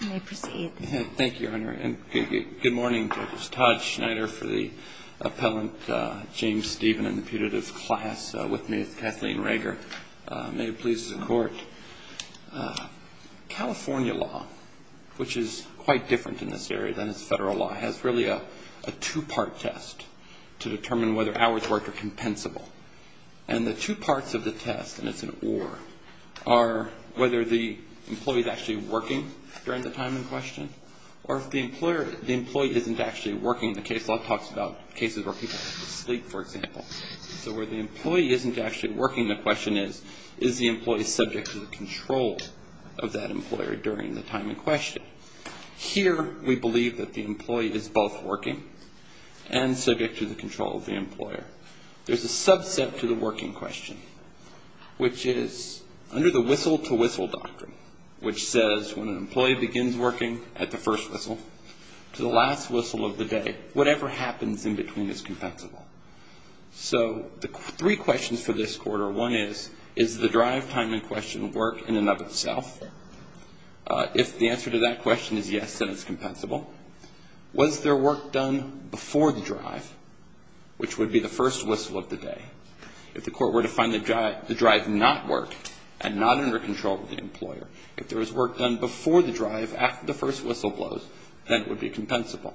May it please the Court, California law, which is quite different in this area than its Federal law, has really a two-part test to determine whether hours worked are compensable. And the two parts of the test, and it's an or, are whether the employee is actually working during the time in question, or if the employer, the employee isn't actually working. The case law talks about cases where people have to sleep, for example. So where the employee isn't actually working, the question is, is the employee subject to the control of that employer during the time in question? Here, we believe that the employee is both working and subject to the control of the employer. There's a subset to the working question, which is under the whistle-to-whistle doctrine, which says when an employee begins working at the first whistle to the last whistle of the day, whatever happens in between is compensable. So the three questions for this Court are, one is, is the drive time in question work in and of itself? If the answer to that question is yes, then it's compensable. Was there work done before the drive, which would be the first whistle of the day? If the Court were to find the drive not worked and not under control of the employer, if there was work done before the drive after the first whistle blows, then it would be compensable.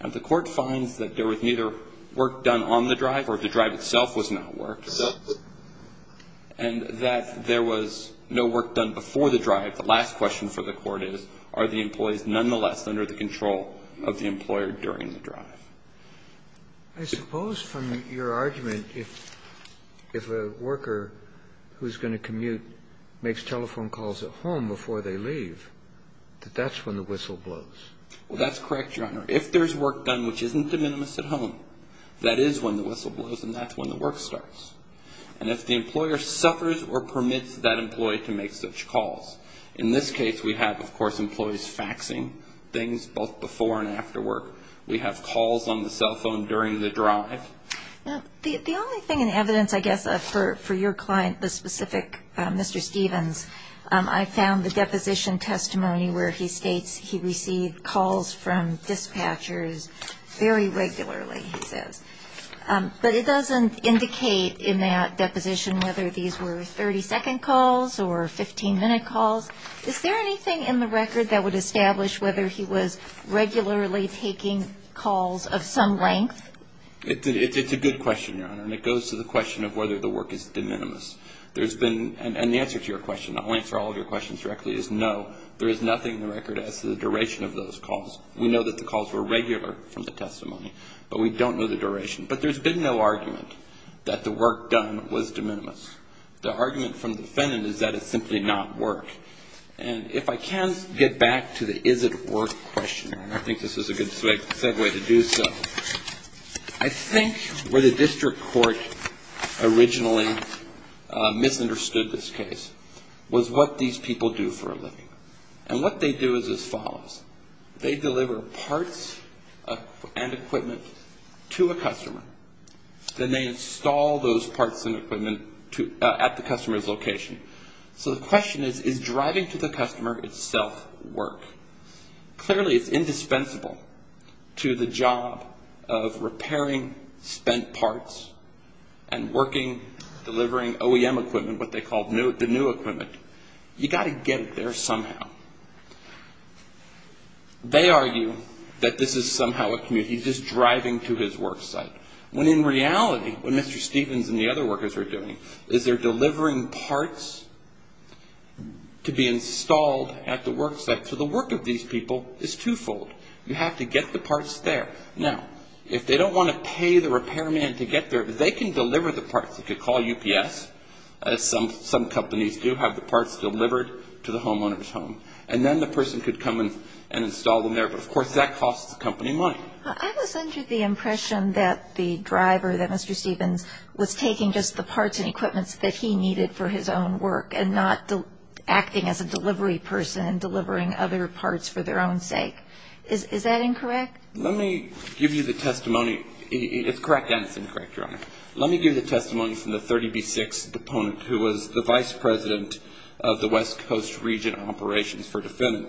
If the Court finds that there was neither work done on the drive or if the drive itself was not worked, and that there was no work done before the drive, the last question for the Court is, are the employees nonetheless under the control of the employer during the drive? I suppose from your argument, if a worker who's going to commute makes telephone calls at home before they leave, that that's when the whistle blows. Well, that's correct, Your Honor. If there's work done which isn't de minimis at home, that is when the whistle blows and that's when the work starts. And if the employer suffers or permits that employee to make such calls. In this case, we have, of course, employees faxing things both before and after work. We have calls on the cell phone during the drive. Now, the only thing in evidence, I guess, for your client, the specific Mr. Stevens, I found the deposition testimony where he states he received calls from dispatchers very regularly, he says. But it doesn't indicate in that deposition whether these were 30-second calls or 15-minute calls. Is there anything in the record that would establish whether he was regularly taking calls of some length? It's a good question, Your Honor, and it goes to the question of whether the work is de minimis. There's been, and the answer to your question, I'll answer all of your questions directly, is no. There is nothing in the record as to the duration of those calls. We know that the calls were regular from the testimony, but we don't know the duration. But there's been no argument that the work done was de minimis. The argument from the defendant is that it's simply not work. And if I can get back to the is it work question, and I think this is a good segue to do so, I think where the district court originally misunderstood this case was what these people do for a living. And what they do is as follows. They deliver parts and equipment to a customer. Then they install those parts and equipment at the customer's location. So the question is, is driving to the customer itself work? Clearly, it's indispensable to the job of repairing spent parts and working, delivering OEM equipment, what they call the new equipment. You got to get it there somehow. They argue that this is somehow a commute. He's just driving to his work site. When in reality, what Mr. Stevens and the other workers are doing is they're delivering parts to be installed at the work site. So the work of these people is twofold. You have to get the parts there. Now, if they don't want to pay the repairman to get there, they can deliver the parts. They could call UPS. Some companies do have the parts delivered to the homeowner's home. And then the person could come and install them there. But of course, that costs the company money. I was under the impression that the driver, that Mr. Stevens, was taking just the parts and equipments that he needed for his own work and not acting as a delivery person and delivering other parts for their own sake. Is that incorrect? Let me give you the testimony. It's correct and it's incorrect, Your Honor. Let me give you the testimony from the 30B6 deponent who was the vice president of the West Coast Region Operations for Defendant.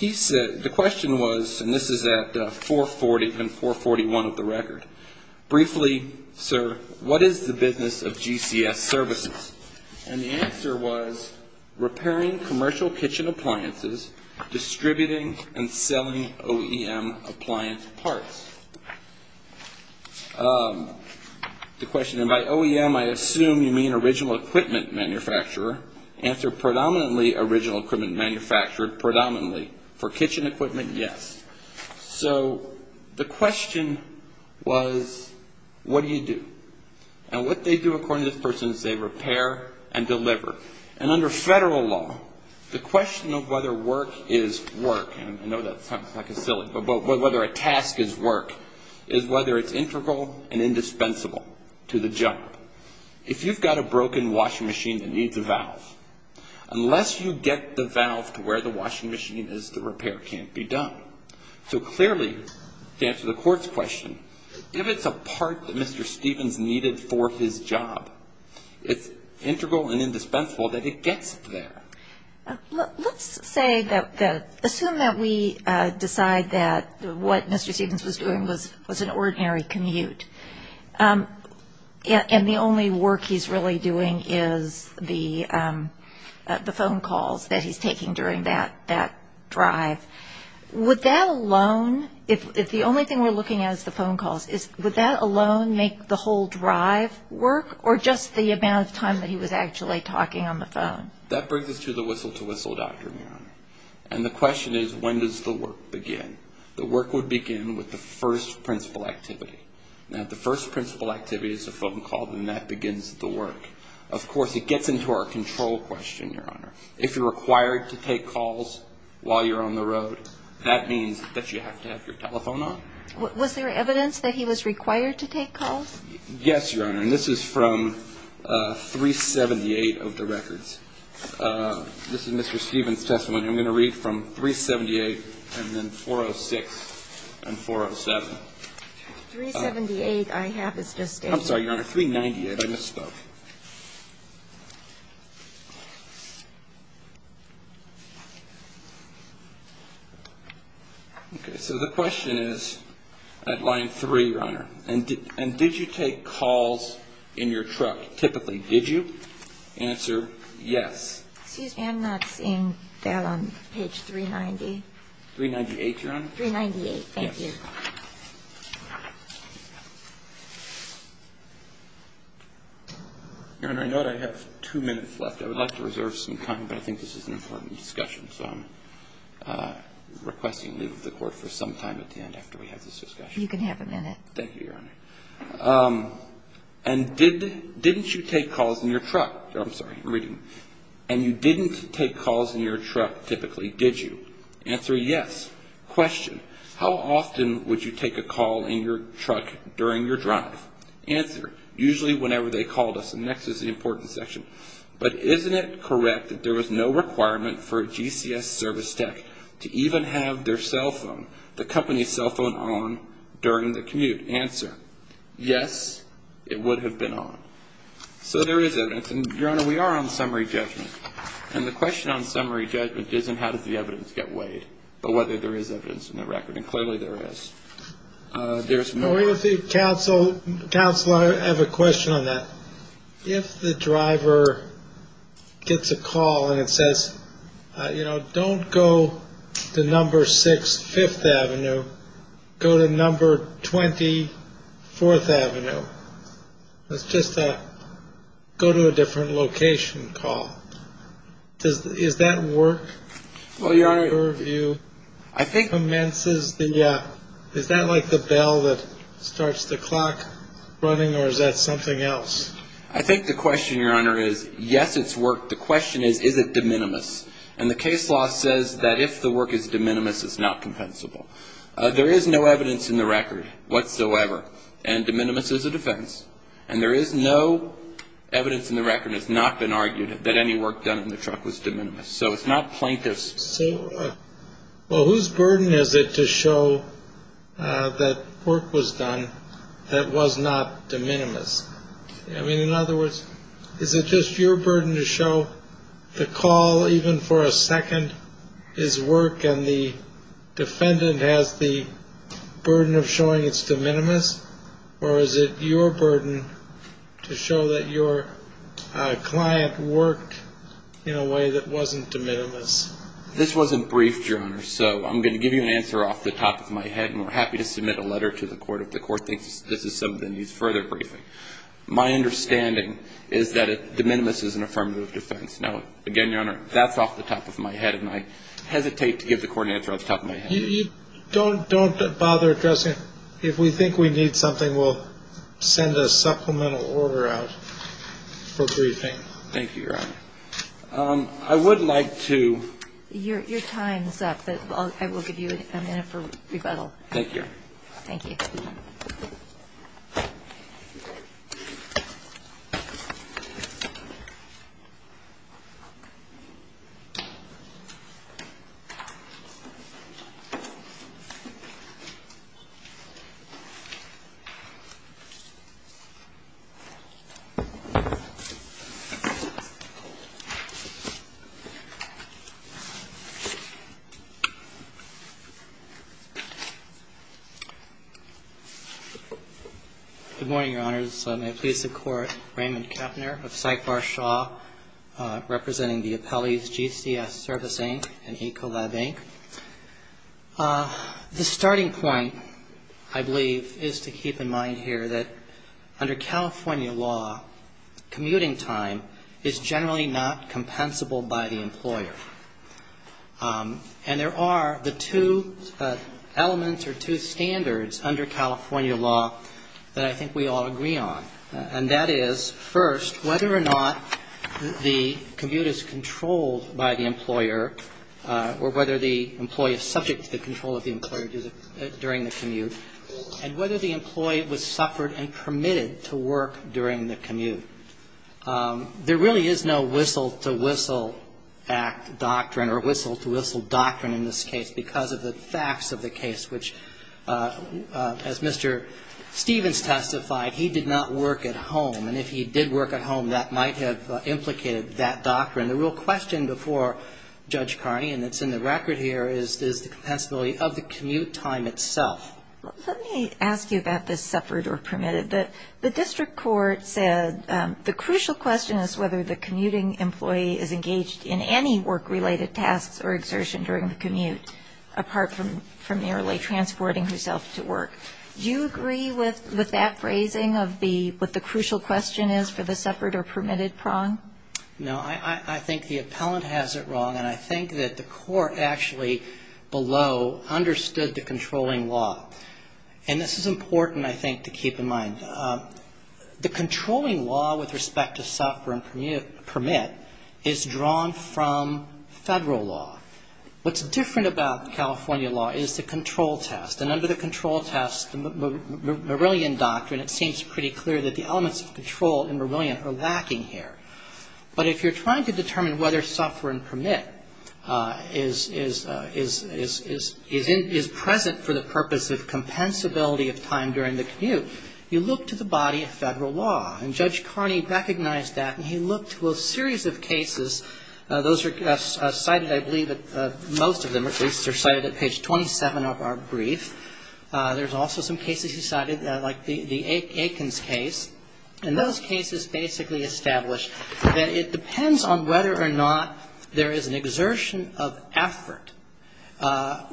The question was, and this is at 440 and 441 of the record, briefly, sir, what is the business of GCS Services? And the answer was repairing commercial kitchen appliances, distributing and selling OEM appliance parts. The question, and by OEM, I assume you mean original equipment manufacturer. Answer, predominantly original equipment manufacturer, predominantly. For kitchen equipment, yes. So the question was, what do you do? And what they do according to this person is they repair and deliver. And under federal law, the question of whether work is work, and I know that sounds like a silly, but whether a task is work, is whether it's integral and indispensable to the job. If you've got a broken washing machine that needs a valve, unless you get the valve to where the washing machine is, the repair can't be done. So clearly, to answer the court's question, if it's a part that Mr. Stevens needed for his job, it's integral and indispensable that it gets there. Let's say that, assume that we decide that what Mr. Stevens was doing was an ordinary commute, and the only work he's really doing is the phone calls that he's taking during that drive. Would that alone, if the only thing we're looking at is the phone calls, would that alone make the whole drive work, or just the amount of time that he was actually talking on the phone? That brings us to the whistle-to-whistle doctrine, Your Honor. And the question is, when does the work begin? The work would begin with the first principal activity. Now, if the first principal activity is a phone call, then that begins the work. Of course, it gets into our control question, Your Honor. If you're required to take calls while you're on the road, that means that you have to have your telephone on. Was there evidence that he was required to take calls? Yes, Your Honor. And this is from 378 of the records. This is Mr. Stevens' testimony. I'm going to read from 378 and then 406 and 407. 378, I have. It's just in here. I'm sorry, Your Honor. 398. I misspoke. Okay. So the question is at line 3, Your Honor, and did you take calls in your truck typically? Did you? Answer, yes. Excuse me. I'm not seeing that on page 390. 398, Your Honor. 398. Thank you. Yes. Your Honor, I know that I have two minutes left. I would like to reserve some time, but I think this is an important discussion, so I'm requesting leave of the Court for some time at the end after we have this discussion. You can have a minute. Thank you. Thank you, Your Honor. And didn't you take calls in your truck? I'm sorry. I'm reading. And you didn't take calls in your truck typically, did you? Answer, yes. Question, how often would you take a call in your truck during your drive? Answer, usually whenever they called us. And next is the important section. But isn't it correct that there was no requirement for a GCS service tech to even have their cell phone, the company's cell phone, on during the commute? Answer, yes, it would have been on. So there is evidence. And, Your Honor, we are on summary judgment. And the question on summary judgment isn't how did the evidence get weighed, but whether there is evidence in the record. And clearly there is. There's more. Counselor, I have a question on that. If the driver gets a call and it says, you know, don't go to number six, Fifth Avenue, go to number 24th Avenue. Let's just go to a different location call. Is that work? Well, Your Honor, I think. Commences the, is that like the bell that starts the clock running or is that something else? I think the question, Your Honor, is, yes, it's work. The question is, is it de minimis? And the case law says that if the work is de minimis, it's not compensable. There is no evidence in the record whatsoever. And de minimis is a defense. And there is no evidence in the record that's not been argued that any work done in the truck was de minimis. So it's not plaintiff's. So well, whose burden is it to show that work was done? That was not de minimis. I mean, in other words, is it just your burden to show the call even for a second? His work and the defendant has the burden of showing it's de minimis. Or is it your burden to show that your client worked in a way that wasn't de minimis? This wasn't briefed, Your Honor, so I'm going to give you an answer off the top of my head. And we're happy to submit a letter to the court if the court thinks this is something that needs further briefing. My understanding is that de minimis is an affirmative defense. Now, again, Your Honor, that's off the top of my head. And I hesitate to give the court an answer off the top of my head. Don't bother addressing it. If we think we need something, we'll send a supplemental order out for briefing. Thank you, Your Honor. I would like to... Your time's up, but I will give you a minute for rebuttal. Thank you, Your Honor. Thank you. Good morning, Your Honors. May it please the Court, Raymond Kepner of Syklar Shaw, representing the appellees GCS Service, Inc. and Ecolab, Inc. The starting point, I believe, is to keep in mind here that under California law, commuting time is generally not compensable by the employer. And there are the two elements or two standards under California law that I think we all agree on. And that is, first, whether or not the commute is controlled by the employer or whether the employee is subject to the control of the employer during the commute, and whether the employee was suffered and permitted to work during the commute. There really is no whistle-to-whistle act doctrine or whistle-to-whistle doctrine in this case because of the facts of the case, which, as Mr. Stevens testified, he did not work at home. And if he did work at home, that might have implicated that doctrine. The real question before Judge Carney, and it's in the record here, is the compensability of the commute time itself. Let me ask you about the suffered or permitted. The district court said the crucial question is whether the commuting employee is engaged in any work-related tasks or exertion during the commute, apart from merely transporting herself to work. Do you agree with that phrasing of what the crucial question is for the suffered or permitted prong? No. I think the appellant has it wrong. And I think that the court actually below understood the controlling law. And this is important, I think, to keep in mind. The controlling law with respect to suffer and permit is drawn from Federal law. What's different about California law is the control test. And under the control test, the Merillian doctrine, it seems pretty clear that the elements of control in Merillian are lacking here. But if you're trying to determine whether suffer and permit is present for the purpose of compensability of time during the commute, you look to the body of Federal law. And Judge Carney recognized that, and he looked to a series of cases. Those are cited, I believe, most of them, at least, are cited at page 27 of our brief. There's also some cases he cited, like the Aikens case. And those cases basically establish that it depends on whether or not there is an exertion of effort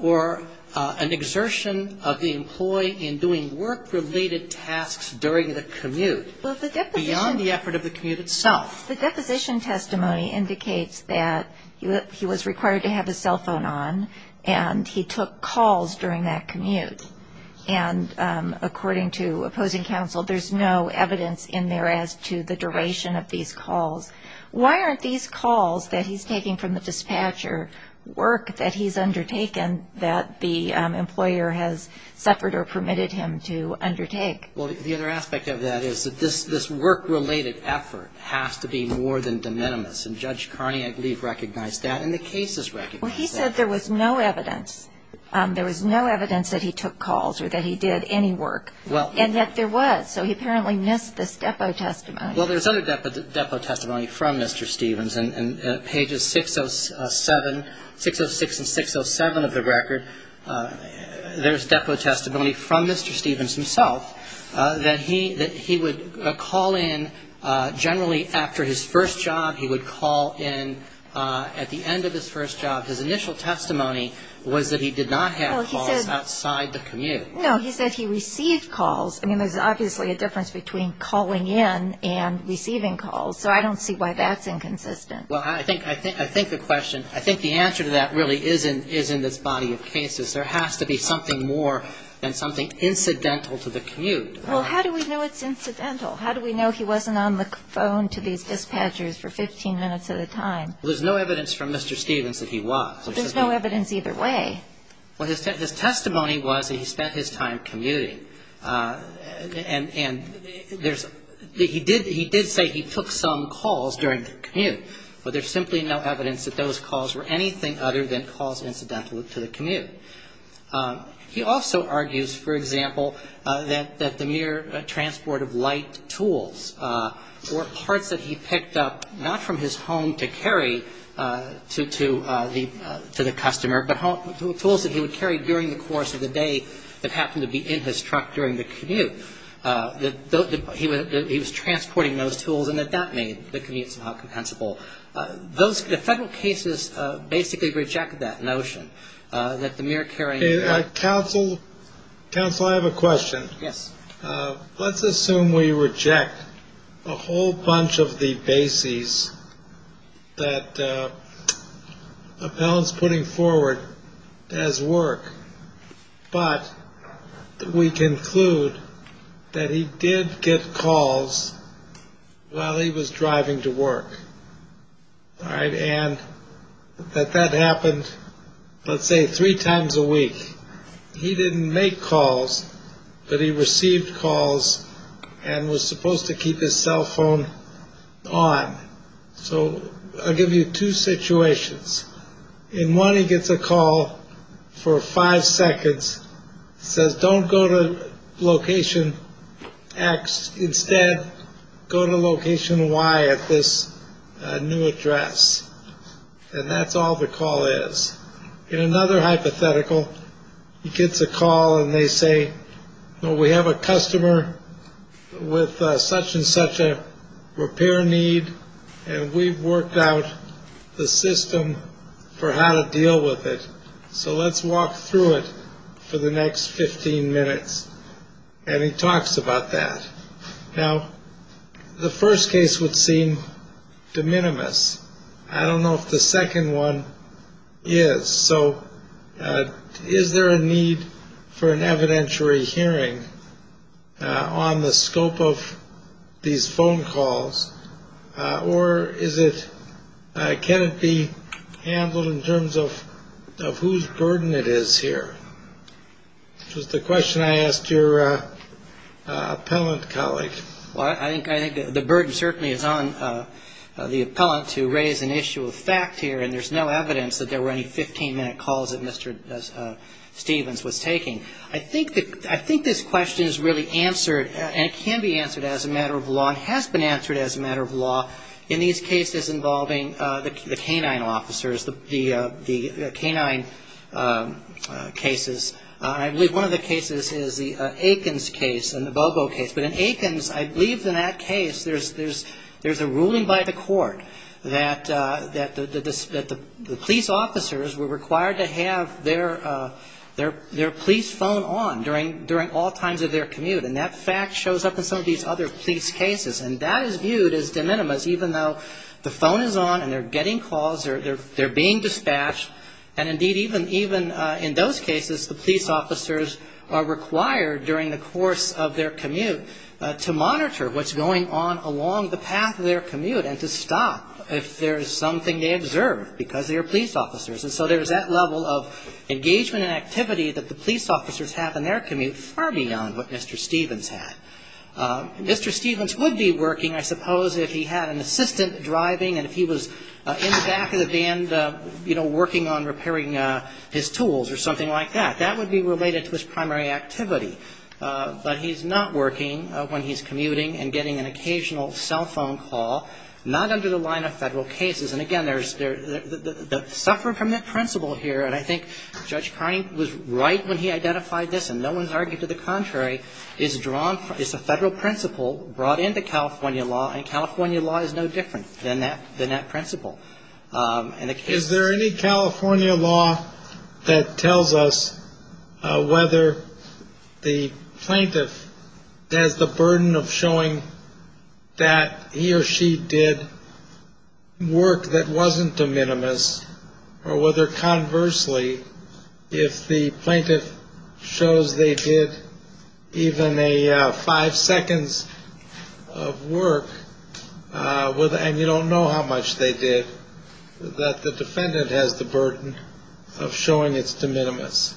or an exertion of the employee in doing work-related tasks during the commute beyond the effort of the commute itself. The deposition testimony indicates that he was required to have his cell phone on, and he took calls during that commute. And according to opposing counsel, there's no evidence in there as to the duration of these calls. Why aren't these calls that he's taking from the dispatcher work that he's undertaken, that the employer has suffered or permitted him to undertake? Well, the other aspect of that is that this work-related effort has to be more than de minimis. And Judge Carney, I believe, recognized that, and the cases recognized that. Well, he said there was no evidence. There was no evidence that he took calls or that he did any work, and yet there was. So he apparently missed this depo testimony. Well, there's other depo testimony from Mr. Stevens. In pages 606 and 607 of the record, there's depo testimony from Mr. Stevens himself, that he would call in generally after his first job. He would call in at the end of his first job. His initial testimony was that he did not have calls outside the commute. No, he said he received calls. I mean, there's obviously a difference between calling in and receiving calls. So I don't see why that's inconsistent. Well, I think the question, I think the answer to that really is in this body of cases. There has to be something more than something incidental to the commute. Well, how do we know it's incidental? How do we know he wasn't on the phone to these dispatchers for 15 minutes at a time? Well, there's no evidence from Mr. Stevens that he was. There's no evidence either way. Well, his testimony was that he spent his time commuting. And he did say he took some calls during the commute. But there's simply no evidence that those calls were anything other than calls incidental to the commute. He also argues, for example, that the mere transport of light tools or parts that he picked up not from his home to carry to the customer but tools that he would carry during the course of the day that happened to be in his truck during the commute, that he was transporting those tools and that that made the commute somehow compensable. Those federal cases basically reject that notion that the mere carrying. Counsel, I have a question. Yes. Let's assume we reject a whole bunch of the bases that appellants putting forward as work. But we conclude that he did get calls while he was driving to work. All right. And that that happened, let's say, three times a week. He didn't make calls, but he received calls and was supposed to keep his cell phone on. So I'll give you two situations. In one, he gets a call for five seconds, says, don't go to location X. Instead, go to location Y at this new address. And that's all the call is. In another hypothetical, he gets a call and they say, well, we have a customer with such and such a repair need. And we've worked out the system for how to deal with it. So let's walk through it for the next 15 minutes. And he talks about that. Now, the first case would seem de minimis. I don't know if the second one is. So is there a need for an evidentiary hearing on the scope of these phone calls? Or is it can it be handled in terms of of whose burden it is here? Just the question I asked your appellant colleague. Well, I think the burden certainly is on the appellant to raise an issue of fact here. And there's no evidence that there were any 15-minute calls that Mr. Stevens was taking. I think this question is really answered and can be answered as a matter of law and has been answered as a matter of law in these cases involving the canine officers, the canine cases. I believe one of the cases is the Aikens case and the Bobo case. But in Aikens, I believe in that case there's a ruling by the court that the police officers were required to have their police phone on during all times of their commute. And that fact shows up in some of these other police cases. And that is viewed as de minimis, even though the phone is on and they're getting calls, they're being dispatched, and, indeed, even in those cases, the police officers are required during the course of their commute to monitor what's going on along the path of their commute and to stop if there is something they observe because they are police officers. And so there's that level of engagement and activity that the police officers have in their commute far beyond what Mr. Stevens had. Mr. Stevens would be working, I suppose, if he had an assistant driving and if he was in the back of the van, you know, working on repairing his tools or something like that. That would be related to his primary activity. But he's not working when he's commuting and getting an occasional cell phone call, not under the line of Federal cases. And, again, there's the suffering from that principle here, and I think Judge Carney was right when he identified this, and no one's argued to the contrary, is drawn from the Federal principle brought into California law, and California law is no different than that principle. Is there any California law that tells us whether the plaintiff has the burden of showing that he or she did work that wasn't de minimis or whether, conversely, if the plaintiff shows they did even a five seconds of work and you don't know how much they did, that the defendant has the burden of showing it's de minimis?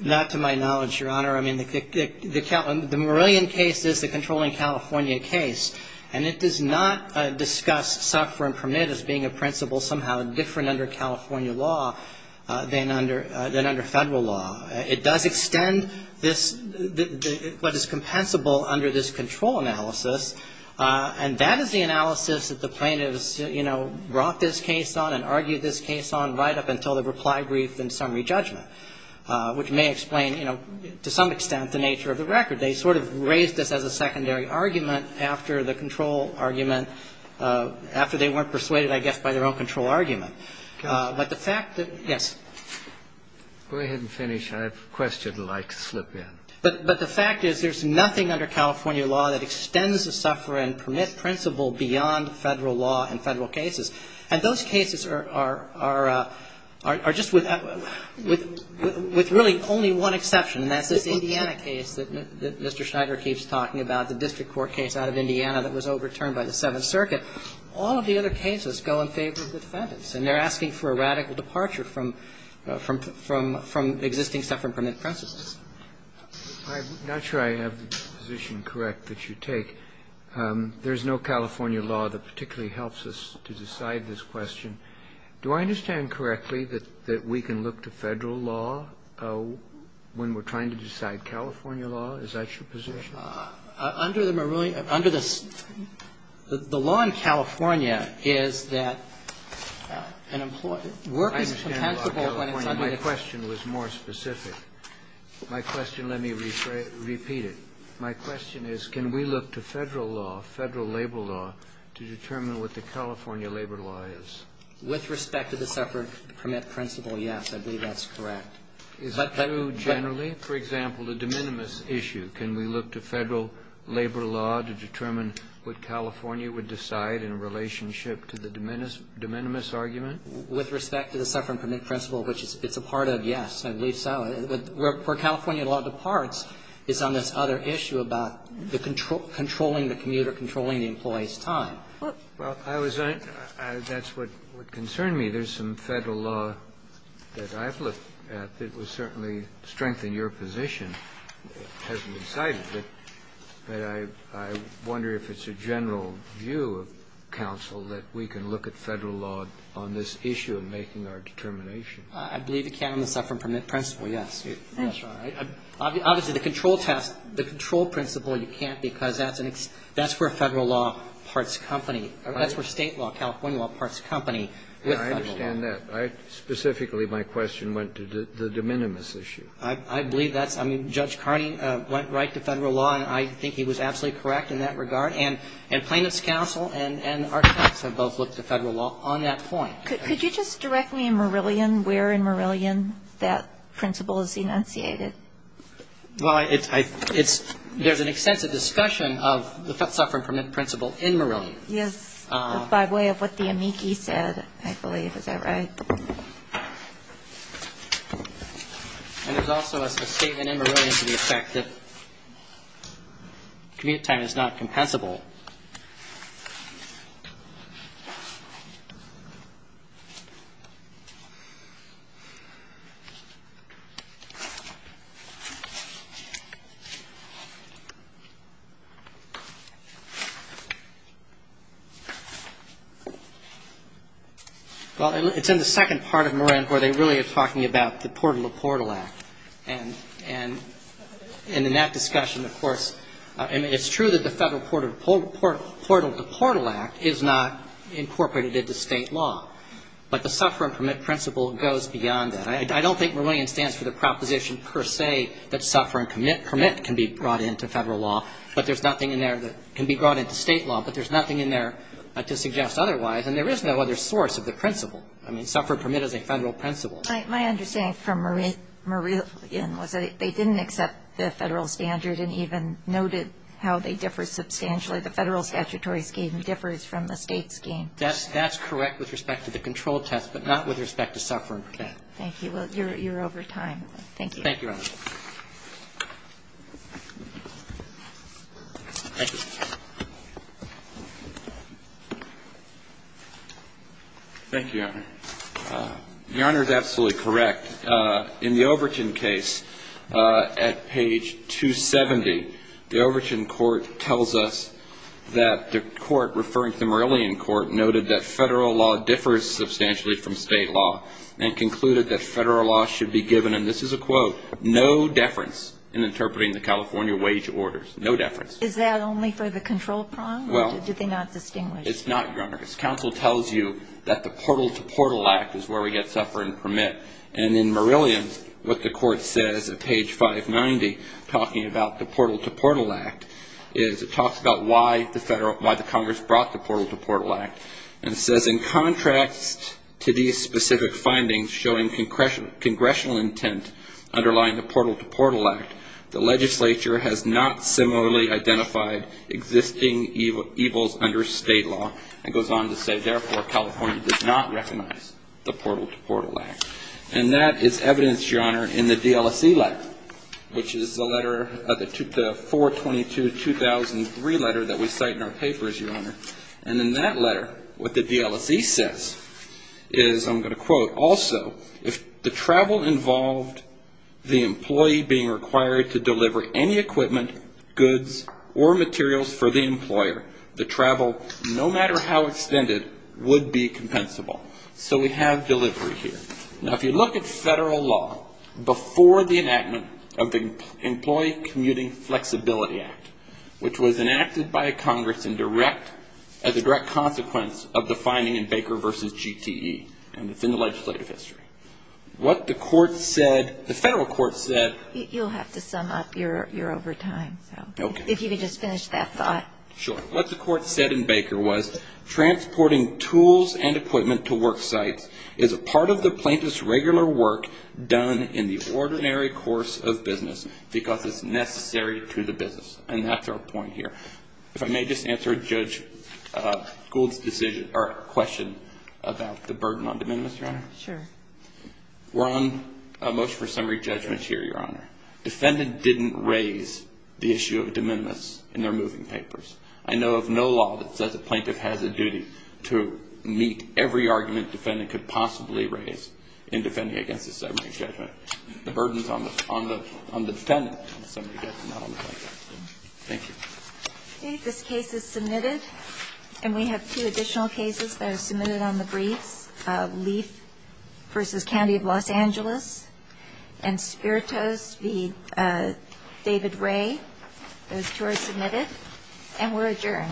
Not to my knowledge, Your Honor. I mean, the Marillion case is the controlling California case, and it does not discuss suffering from it as being a principle somehow different under California law than under Federal law. It does extend this, what is compensable under this control analysis, and that is the analysis that the plaintiffs, you know, brought this case on and argued this case on right up until the reply brief and summary judgment, which may explain, you know, to some extent, the nature of the record. They sort of raised this as a secondary argument after the control argument, after they weren't persuaded, I guess, by their own control argument. But the fact that yes. Go ahead and finish. I have a question I'd like to slip in. But the fact is there's nothing under California law that extends the suffering permit principle beyond Federal law and Federal cases. And those cases are just with really only one exception, and that's this Indiana case that Mr. Schneider keeps talking about, the district court case out of Indiana that was overturned by the Seventh Circuit. All of the other cases go in favor of the defendants, and they're asking for a radical departure from existing suffering permit principles. I'm not sure I have the position correct that you take. There's no California law that particularly helps us to decide this question. Do I understand correctly that we can look to Federal law when we're trying to decide California law? Is that your position? Under the Marooni – under the – the law in California is that an employee – work is compensable when it's under the law. I understand the law of California. My question was more specific. My question – let me repeat it. My question is can we look to Federal law, Federal labor law, to determine what the California labor law is? With respect to the suffering permit principle, yes, I believe that's correct. Is it true generally? For example, the de minimis issue, can we look to Federal labor law to determine what California would decide in relationship to the de minimis argument? With respect to the suffering permit principle, which it's a part of, yes, I believe so. Where California law departs is on this other issue about the controlling the commute or controlling the employee's time. Well, I was – that's what concerned me. There's some Federal law that I've looked at that would certainly strengthen your position. It hasn't been cited, but I wonder if it's a general view of counsel that we can look at Federal law on this issue of making our determination. I believe you can on the suffering permit principle, yes. That's right. Obviously, the control test, the control principle, you can't because that's an – that's where Federal law parts company. That's where State law, California law, parts company. I understand that. Specifically, my question went to the de minimis issue. I believe that's – I mean, Judge Carney went right to Federal law, and I think he was absolutely correct in that regard. And plaintiff's counsel and our courts have both looked to Federal law on that point. Could you just direct me in Marillion where in Marillion that principle is enunciated? Well, it's – there's an extensive discussion of the suffering permit principle in Marillion. Yes, by way of what the amici said, I believe. Is that right? And there's also a statement in Marillion to the effect that commute time is not Well, it's in the second part of Marillion where they really are talking about the portal-to-portal act. And in that discussion, of course, it's true that the federal portal-to-portal act is not incorporated into State law. But the suffering permit principle goes beyond that. I don't think Marillion stands for the proposition per se that suffer and commit can be brought into Federal law, but there's nothing in there that can be brought into State law, but there's nothing in there to suggest otherwise. And there is no other source of the principle. I mean, suffer and commit is a Federal principle. My understanding from Marillion was that they didn't accept the Federal standard and even noted how they differ substantially. The Federal statutory scheme differs from the State scheme. That's correct with respect to the control test, but not with respect to suffer and commit. Thank you. Well, you're over time. Thank you. Thank you, Your Honor. The Honor is absolutely correct. In the Overton case, at page 270, the Overton court tells us that the court referring to the Marillion court noted that Federal law differs substantially from State law and concluded that Federal law should be given, and this is a quote, in interpreting the California wage orders. No deference. Is that only for the control problem, or did they not distinguish? It's not, Your Honor. As counsel tells you, that the Portal to Portal Act is where we get suffer and commit. And in Marillion, what the court says at page 590, talking about the Portal to Portal Act, is it talks about why the Congress brought the Portal to Portal Act and says, in contrast to these specific findings showing congressional intent underlying the Portal to Portal Act, the legislature has not similarly identified existing evils under State law. It goes on to say, therefore, California does not recognize the Portal to Portal Act. And that is evidence, Your Honor, in the DLSE letter, which is the letter, the 422-2003 letter that we cite in our papers, Your Honor. And in that letter, what the DLSE says is, I'm going to quote, also, if the travel involved the employee being required to deliver any equipment, goods, or materials for the employer, the travel, no matter how extended, would be compensable. So we have delivery here. Now, if you look at Federal law before the enactment of the Employee Commuting Flexibility Act, which was enacted by Congress as a direct consequence of the finding in Baker v. GTE, and it's in the legislative history, what the court said, the Federal court said. You'll have to sum up your overtime. Okay. If you could just finish that thought. Sure. What the court said in Baker was, transporting tools and equipment to work sites is a part of the plaintiff's regular work done in the ordinary course of business because it's necessary to the business. And that's our point here. If I may just answer Judge Gould's question about the burden on de minimis, Your Honor. Sure. We're on a motion for summary judgment here, Your Honor. Defendant didn't raise the issue of de minimis in their moving papers. I know of no law that says a plaintiff has a duty to meet every argument defendant could possibly raise in defending against a summary judgment. The burden is on the defendant, not on the plaintiff. Thank you. Okay. This case is submitted. And we have two additional cases that are submitted on the briefs, Leaf v. County of Los Angeles and Spiritos v. David Ray. Those two are submitted. And we're adjourned.